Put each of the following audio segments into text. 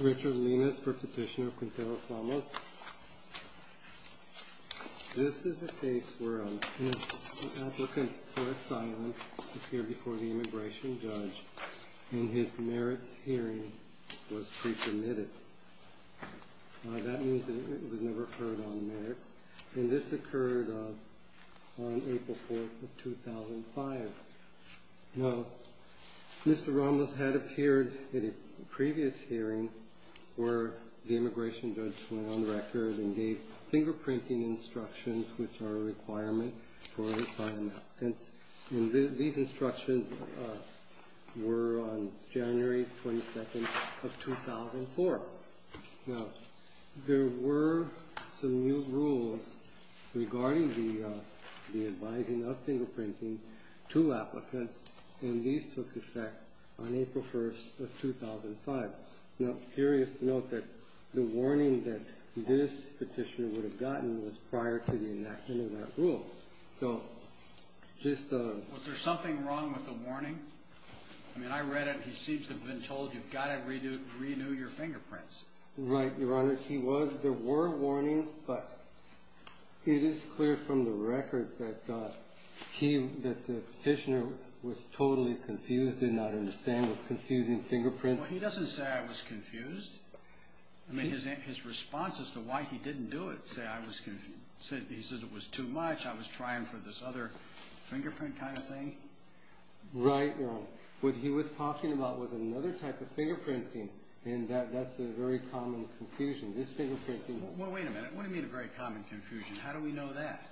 Richard Linas for Petitioner of Quinteros Ramos This is a case where an applicant for asylum appeared before the immigration judge and his merits hearing was pre-permitted. That means that it was never heard on merits. And this occurred on April 4th of 2005. Now, Mr. Ramos had appeared at a previous hearing where the immigration judge went on the record and gave fingerprinting instructions, which are a requirement for asylum applicants. And these instructions were on January 22nd of 2004. Now, there were some new rules regarding the advising of fingerprinting to applicants, and these took effect on April 1st of 2005. Now, I'm curious to note that the warning that this petitioner would have gotten was prior to the enactment of that rule. So just a – Was there something wrong with the warning? I mean, I read it, and he seems to have been told you've got to renew your fingerprints. Right, Your Honor. He was – there were warnings, but it is clear from the record that he – that the petitioner was totally confused, did not understand, was confusing fingerprints. Well, he doesn't say I was confused. I mean, his response as to why he didn't do it, say I was – he says it was too much, I was trying for this other fingerprint kind of thing. Right, Your Honor. What he was talking about was another type of fingerprinting, and that's a very common confusion. This fingerprinting – Well, wait a minute. What do you mean a very common confusion? How do we know that?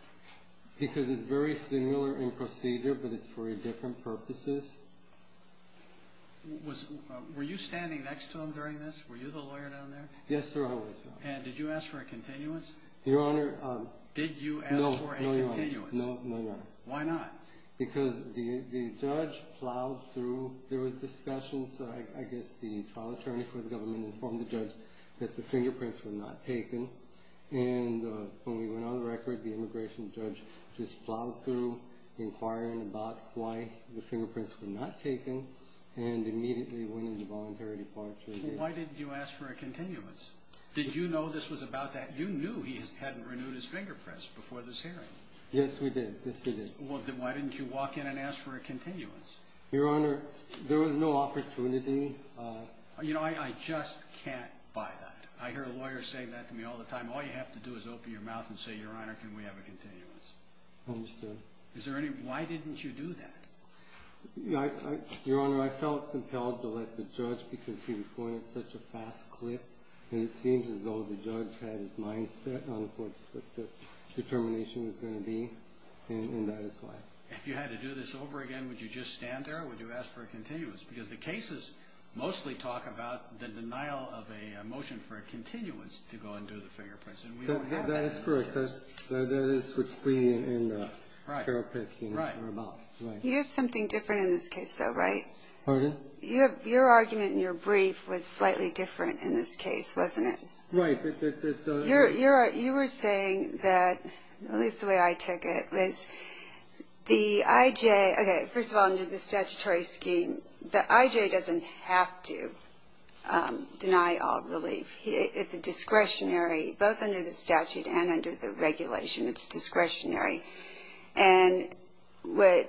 Because it's very similar in procedure, but it's for different purposes. Was – were you standing next to him during this? Were you the lawyer down there? Yes, Your Honor. And did you ask for a continuance? Your Honor – Did you ask for a continuance? No, no, Your Honor. No, no, Your Honor. Why not? Because the judge plowed through. There was discussion, so I guess the trial attorney for the government informed the judge that the fingerprints were not taken, and when we went on the record, the immigration judge just plowed through inquiring about why the fingerprints were not taken and immediately went into voluntary departure. Why didn't you ask for a continuance? Did you know this was about that? You knew he hadn't renewed his fingerprints before this hearing. Yes, we did. Yes, we did. Well, then why didn't you walk in and ask for a continuance? Your Honor, there was no opportunity. You know, I just can't buy that. I hear lawyers say that to me all the time. All you have to do is open your mouth and say, Your Honor, can we have a continuance? I understand. Is there any – why didn't you do that? Your Honor, I felt compelled to let the judge, because he was going at such a fast clip, and it seems as though the judge had his mind set on what the determination was going to be, and that is why. If you had to do this over again, would you just stand there, or would you ask for a continuance? Because the cases mostly talk about the denial of a motion for a continuance to go and do the fingerprints, and we don't have that. That is correct. That is what we and Carol Peck, you know, are about. Right. You have something different in this case, though, right? Pardon? Your argument in your brief was slightly different in this case, wasn't it? Right. You were saying that, at least the way I took it, was the I.J. Okay, first of all, under the statutory scheme, the I.J. doesn't have to deny all relief. It's a discretionary, both under the statute and under the regulation, it's discretionary. And what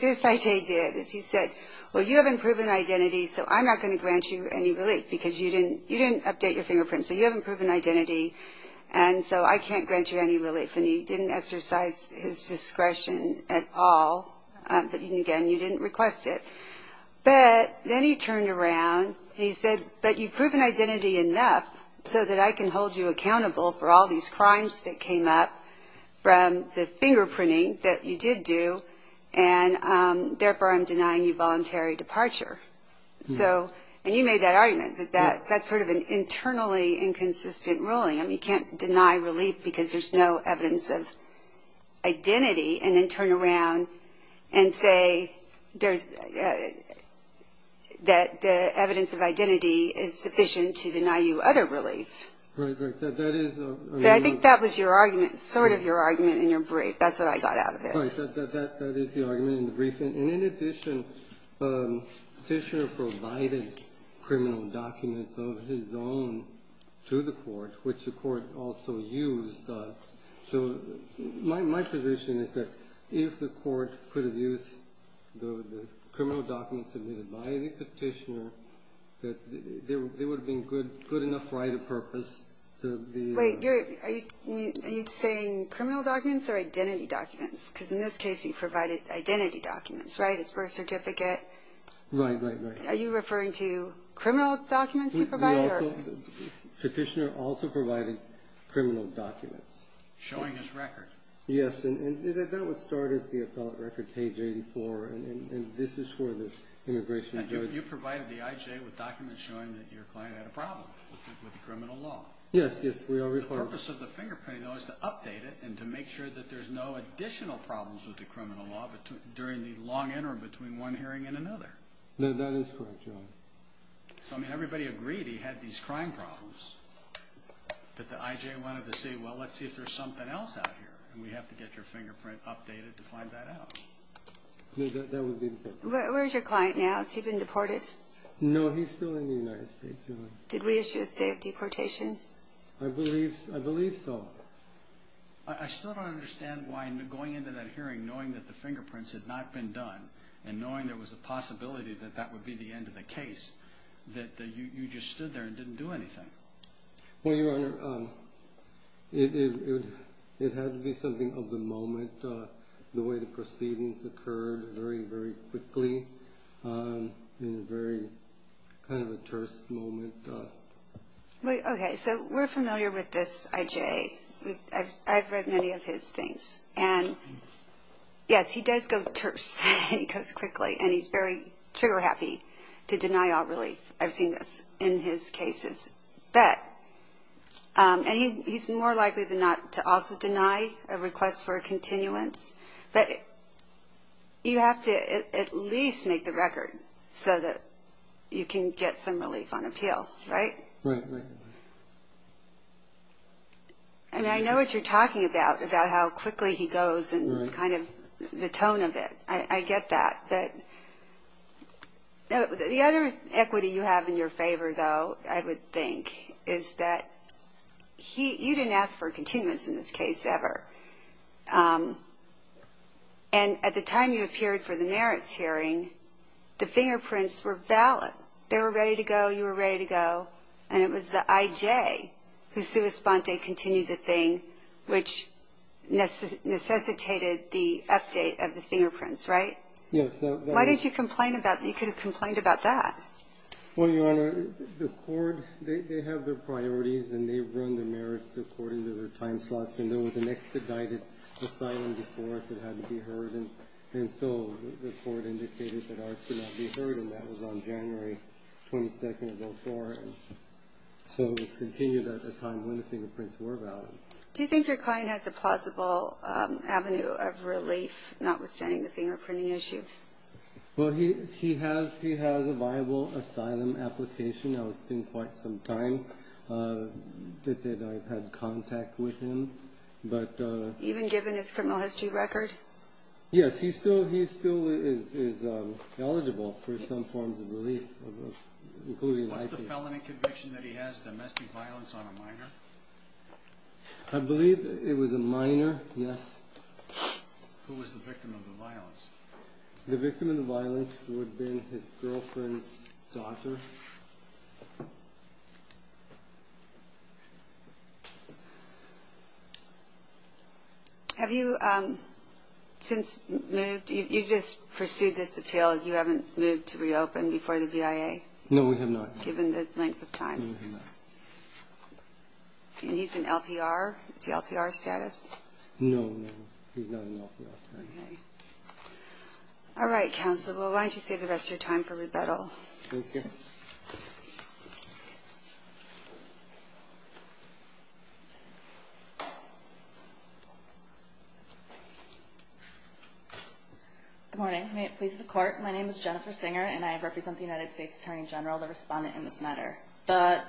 this I.J. did is he said, well, you haven't proven identity, so I'm not going to grant you any relief because you didn't update your fingerprints, so you haven't proven identity, and so I can't grant you any relief. And he didn't exercise his discretion at all, but, again, you didn't request it. But then he turned around and he said, but you've proven identity enough so that I can hold you accountable for all these crimes that came up from the fingerprinting that you did do, and, therefore, I'm denying you voluntary departure. So, and you made that argument that that's sort of an internally inconsistent ruling. I mean, you can't deny relief because there's no evidence of identity, and then turn around and say there's, that the evidence of identity is sufficient to deny you other relief. Right, right. That is a. I think that was your argument, sort of your argument in your brief. That's what I got out of it. Right. That is the argument in the brief. And in addition, Fischer provided criminal documents of his own to the court, which the court also used. So my position is that if the court could have used the criminal documents submitted by the petitioner, that there would have been good enough right of purpose. Wait. Are you saying criminal documents or identity documents? Because in this case, he provided identity documents, right? His birth certificate. Right, right, right. Are you referring to criminal documents he provided? Petitioner also provided criminal documents. Showing his record. Yes, and that was started, the appellate record, page 84, and this is for the immigration judge. And you provided the IJ with documents showing that your client had a problem with the criminal law. Yes, yes. The purpose of the fingerprinting, though, is to update it and to make sure that there's no additional problems with the criminal law during the long interim between one hearing and another. That is correct, Your Honor. So, I mean, everybody agreed he had these crime problems. But the IJ wanted to see, well, let's see if there's something else out here. And we have to get your fingerprint updated to find that out. That would be the case. Where's your client now? Has he been deported? No, he's still in the United States, Your Honor. Did we issue a state of deportation? I believe so. I still don't understand why, going into that hearing, knowing that the fingerprints had not been done, and knowing there was a possibility that that would be the end of the case, that you just stood there and didn't do anything. Well, Your Honor, it had to be something of the moment, the way the proceedings occurred, very, very quickly, in a very kind of a terse moment. Okay. So we're familiar with this IJ. I've read many of his things. And, yes, he does go terse. He goes quickly. And he's very trigger-happy to deny all relief. I've seen this in his cases. And he's more likely than not to also deny a request for a continuance. But you have to at least make the record so that you can get some relief on appeal, right? Right, right. I mean, I know what you're talking about, about how quickly he goes and kind of the tone of it. I get that. But the other equity you have in your favor, though, I would think, is that you didn't ask for a continuance in this case ever. And at the time you appeared for the merits hearing, the fingerprints were valid. They were ready to go. You were ready to go. And it was the IJ who sua sponte continued the thing, which necessitated the update of the fingerprints, right? Yes. Why did you complain about that? You could have complained about that. Well, Your Honor, the court, they have their priorities, and they run their merits according to their time slots. And there was an expedited asylum before us that had to be heard. And so the court indicated that ours could not be heard. And that was on January 22nd of 2004. So it was continued at the time when the fingerprints were valid. Do you think your client has a plausible avenue of relief, notwithstanding the fingerprinting issue? Well, he has a viable asylum application. Now, it's been quite some time that I've had contact with him. Even given his criminal history record? Yes. He still is eligible for some forms of relief, including an IP. Is the felony conviction that he has domestic violence on a minor? I believe it was a minor, yes. Who was the victim of the violence? The victim of the violence would have been his girlfriend's daughter. Have you since moved? You just pursued this appeal. You haven't moved to reopen before the BIA? No, we have not. Given the length of time? No, we have not. And he's in LPR? Is he LPR status? No, no, he's not in LPR status. Okay. All right, counsel, why don't you save the rest of your time for rebuttal. Thank you. Good morning. May it please the Court. My name is Jennifer Singer, and I represent the United States Attorney General, the respondent in this matter. The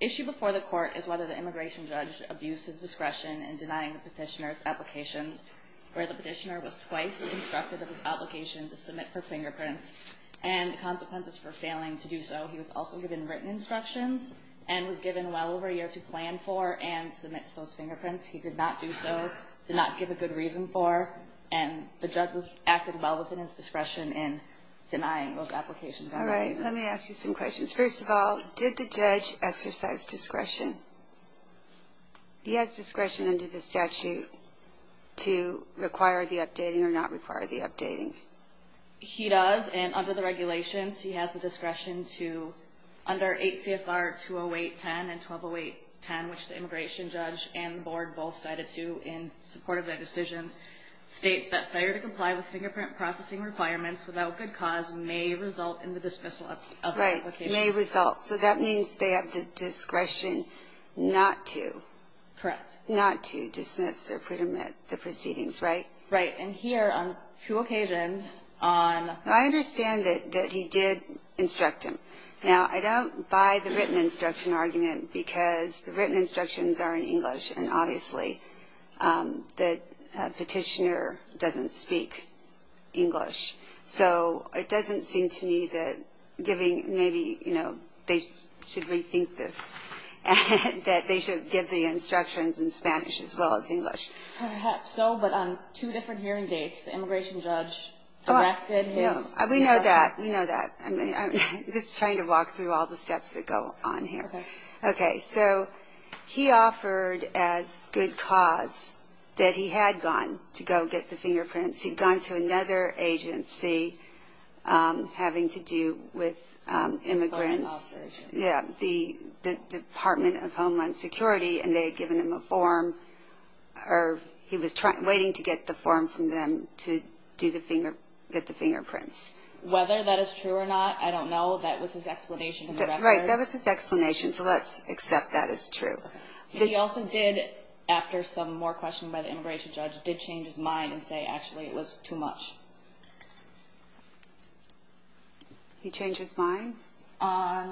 issue before the Court is whether the immigration judge abused his discretion in denying the petitioner's applications, where the petitioner was twice instructed of his obligation to submit for fingerprints, and the consequences for failing to do so. He was also given written instructions and was given well over a year to plan for and submit to those fingerprints. He did not do so, did not give a good reason for, and the judge acted well within his discretion in denying those applications. All right. Let me ask you some questions. First of all, did the judge exercise discretion? He has discretion under the statute to require the updating or not require the updating. He does, and under the regulations he has the discretion to, under 8 CFR 208.10 and 1208.10, which the immigration judge and the board both cited to in support of their decisions, states that failure to comply with fingerprint processing requirements without good cause may result in the dismissal of the application. Right, may result. So that means they have the discretion not to. Correct. Not to dismiss or put him at the proceedings, right? Right. And here, on two occasions on I understand that he did instruct him. Now, I don't buy the written instruction argument because the written instructions are in English and obviously the petitioner doesn't speak English. So it doesn't seem to me that giving maybe, you know, they should rethink this, that they should give the instructions in Spanish as well as English. Perhaps so, but on two different hearing dates, the immigration judge directed his We know that. We know that. I'm just trying to walk through all the steps that go on here. Okay. Okay. So he offered as good cause that he had gone to go get the fingerprints. He'd gone to another agency having to do with immigrants. Foreign law agency. Yeah. The Department of Homeland Security, and they had given him a form, or he was waiting to get the form from them to get the fingerprints. Whether that is true or not, I don't know. That was his explanation. Right. That was his explanation. So let's accept that as true. He also did, after some more questioning by the immigration judge, did change his mind and say actually it was too much. He changed his mind?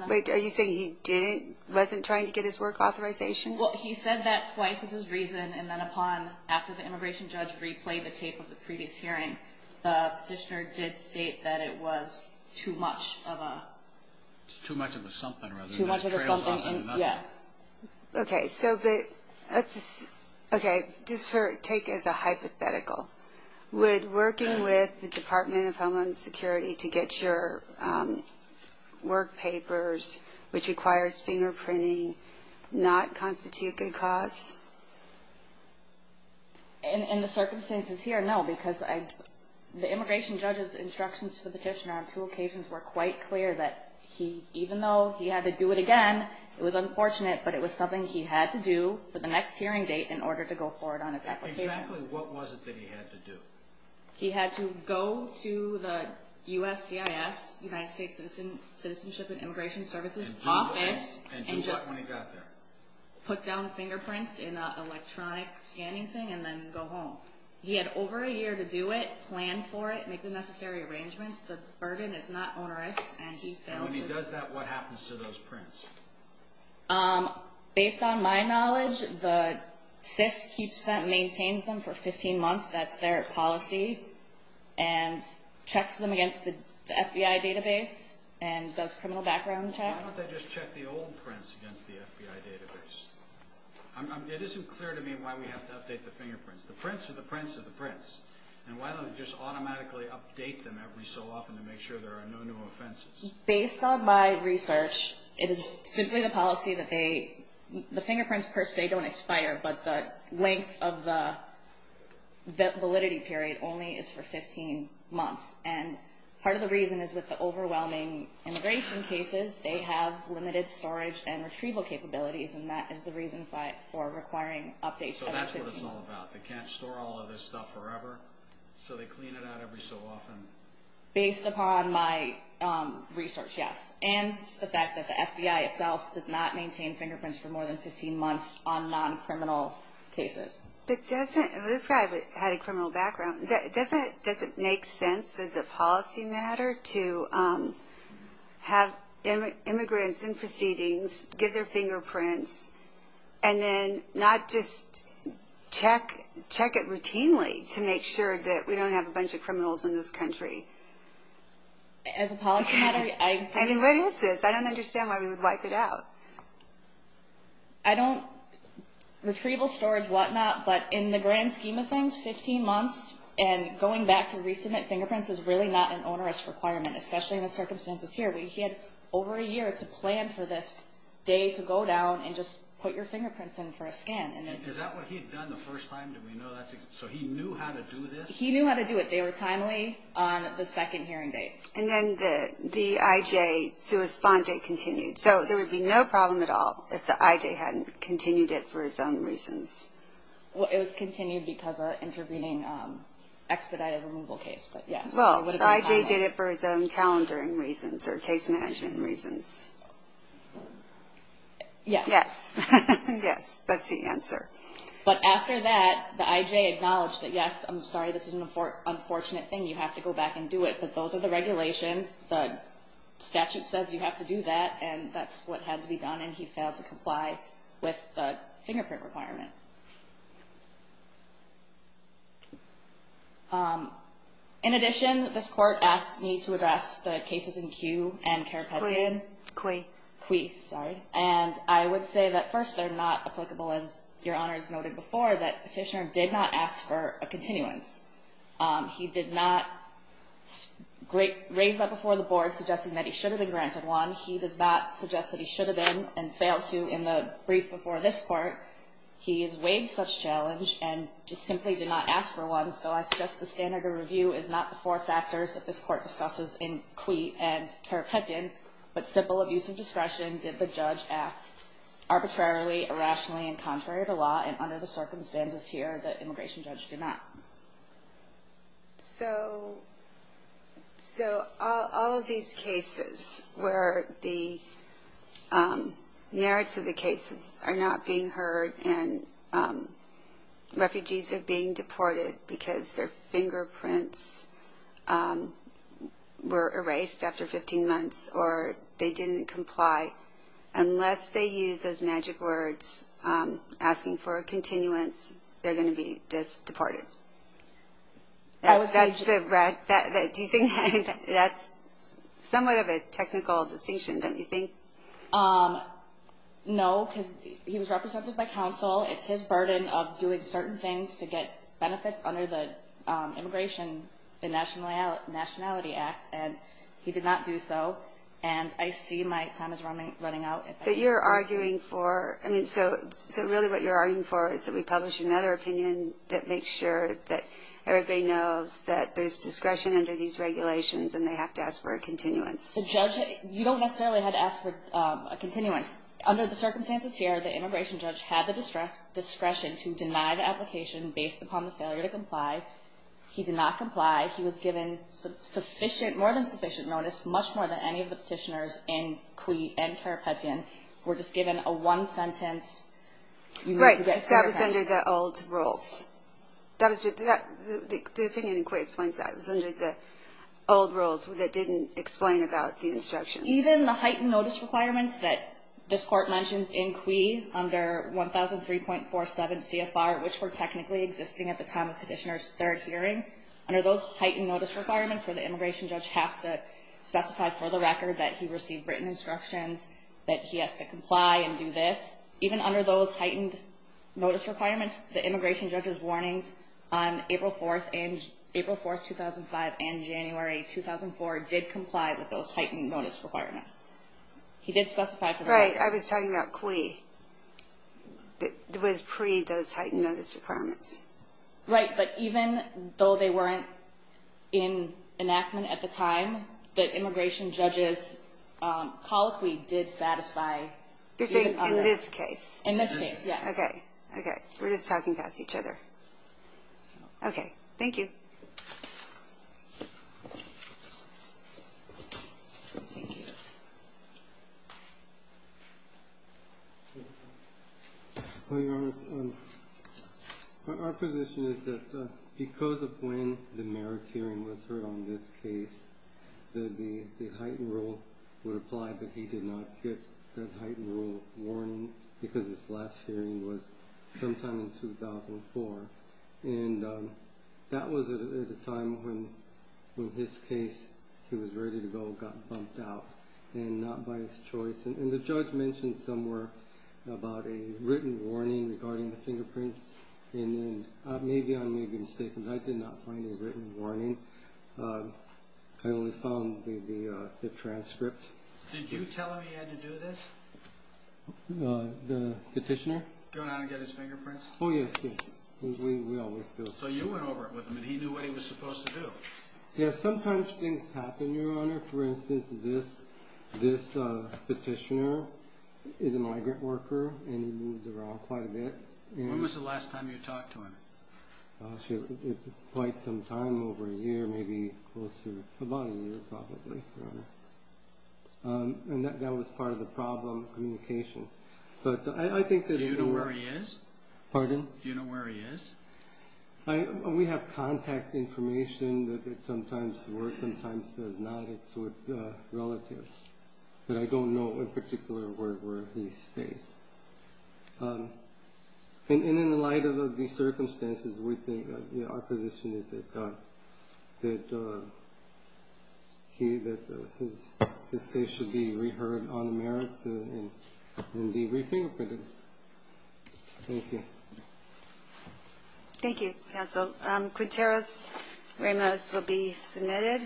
Wait, are you saying he didn't, wasn't trying to get his work authorization? Well, he said that twice as his reason, and then upon, after the immigration judge replayed the tape of the previous hearing, the petitioner did state that it was too much of a. Too much of a something. Too much of a something. Yeah. Okay. So, but, okay, just take as a hypothetical. Would working with the Department of Homeland Security to get your work papers, which requires fingerprinting, not constitute good cause? In the circumstances here, no, because the immigration judge's instructions to the petitioner on two occasions were quite clear that even though he had to do it again, it was unfortunate, but it was something he had to do for the next hearing date in order to go forward on his application. Exactly what was it that he had to do? He had to go to the USCIS, United States Citizenship and Immigration Services Office, And do what when he got there? Put down fingerprints in an electronic scanning thing and then go home. He had over a year to do it, plan for it, make the necessary arrangements. The burden is not onerous, and he failed to. And when he does that, what happens to those prints? Based on my knowledge, the CIS keeps them, maintains them for 15 months. That's their policy, and checks them against the FBI database and does criminal background check. Why don't they just check the old prints against the FBI database? It isn't clear to me why we have to update the fingerprints. The prints are the prints of the prints, and why don't they just automatically update them every so often to make sure there are no new offenses? Based on my research, it is simply the policy that they, the fingerprints per se don't expire, but the length of the validity period only is for 15 months, and part of the reason is with the overwhelming immigration cases, they have limited storage and retrieval capabilities, and that is the reason for requiring updates every 15 months. So that's what it's all about. They can't store all of this stuff forever, so they clean it out every so often. Based upon my research, yes, and the fact that the FBI itself does not maintain fingerprints for more than 15 months on non-criminal cases. This guy had a criminal background. Does it make sense as a policy matter to have immigrants in proceedings give their fingerprints and then not just check it routinely to make sure that we don't have a bunch of criminals in this country? As a policy matter, I... I mean, what is this? I don't understand why we would wipe it out. I don't... Retrieval, storage, whatnot, but in the grand scheme of things, 15 months and going back to re-submit fingerprints is really not an onerous requirement, especially in the circumstances here. He had over a year to plan for this day to go down and just put your fingerprints in for a scan. And is that what he had done the first time? Did we know that's... So he knew how to do this? He knew how to do it. They were timely on the second hearing date. And then the IJ suicide date continued. So there would be no problem at all if the IJ hadn't continued it for his own reasons. Well, it was continued because of intervening expedited removal case, but yes. Well, the IJ did it for his own calendaring reasons or case management reasons. Yes. Yes. Yes. That's the answer. But after that, the IJ acknowledged that, yes, I'm sorry, this is an unfortunate thing. You have to go back and do it. But those are the regulations. The statute says you have to do that. And that's what had to be done. And he failed to comply with the fingerprint requirement. In addition, this court asked me to address the cases in Kew and Karapet. Kwee. Kwee, sorry. And I would say that, first, they're not applicable, as Your Honors noted before, that Petitioner did not ask for a continuance. He did not raise that before the board, suggesting that he should have been granted one. He does not suggest that he should have been and failed to in the brief before this court. He has waived such challenge and just simply did not ask for one. So I suggest the standard of review is not the four factors that this court discusses in Kwee and Karapetian, but simple abuse of discretion. Did the judge act arbitrarily, irrationally, and contrary to law? And under the circumstances here, the immigration judge did not. So all of these cases where the merits of the cases are not being heard and refugees are being deported because their fingerprints were erased after 15 months or they didn't comply, unless they use those magic words asking for a continuance, they're going to be just deported. That's somewhat of a technical distinction, don't you think? No, because he was represented by counsel. It's his burden of doing certain things to get benefits under the Immigration and Nationality Act, and he did not do so. And I see my time is running out. But you're arguing for – so really what you're arguing for is that we publish another opinion that makes sure that everybody knows that there's discretion under these regulations and they have to ask for a continuance. You don't necessarily have to ask for a continuance. Under the circumstances here, the immigration judge had the discretion to deny the application based upon the failure to comply. He did not comply. He was given sufficient – more than sufficient notice, much more than any of the petitioners in CUI and Carapaggian, were just given a one-sentence – Right, because that was under the old rules. The opinion in CUI explains that. It was under the old rules that didn't explain about the instructions. Even the heightened notice requirements that this Court mentions in CUI under 1003.47 CFR, which were technically existing at the time of petitioner's third hearing, under those heightened notice requirements where the immigration judge has to specify for the record that he received written instructions, that he has to comply and do this, even under those heightened notice requirements, the immigration judge's warnings on April 4, 2005, and January 2004 did comply with those heightened notice requirements. He did specify for the record. Right, I was talking about CUI. It was pre those heightened notice requirements. Right, but even though they weren't in enactment at the time, the immigration judge's colloquy did satisfy even under – You're saying in this case. In this case, yes. Okay. Okay. We're just talking past each other. Okay. Thank you. Thank you. Your Honor, our position is that because of when the merits hearing was heard on this case, the heightened rule would apply, but he did not get that heightened rule warning because his last hearing was sometime in 2004. And that was at a time when his case, he was ready to go, got bumped out, and not by his choice. And the judge mentioned somewhere about a written warning regarding the fingerprints, and maybe I made a mistake because I did not find a written warning. I only found the transcript. Did you tell him he had to do this? The petitioner? Go down and get his fingerprints? Oh, yes, yes. We always do. So you went over it with him, and he knew what he was supposed to do. Yes, sometimes things happen, Your Honor. For instance, this petitioner is a migrant worker, and he moves around quite a bit. When was the last time you talked to him? Quite some time, over a year, maybe close to about a year, probably, Your Honor. And that was part of the problem, communication. But I think that if you were – Do you know where he is? Pardon? Do you know where he is? We have contact information that sometimes works, sometimes does not. It's with relatives. But I don't know in particular where he stays. And in light of the circumstances, we think our position is that he – that his case should be reheard on the merits and be re-fingerprinted. Thank you. Thank you, counsel. Quinteros Ramos will be submitted,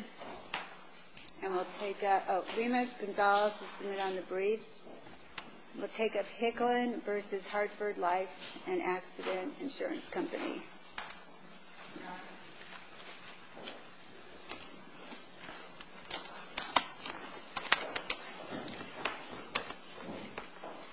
and we'll take – oh, Ramos Gonzalez will submit on the briefs. We'll take up Hicklen v. Hartford Life and Accident Insurance Company.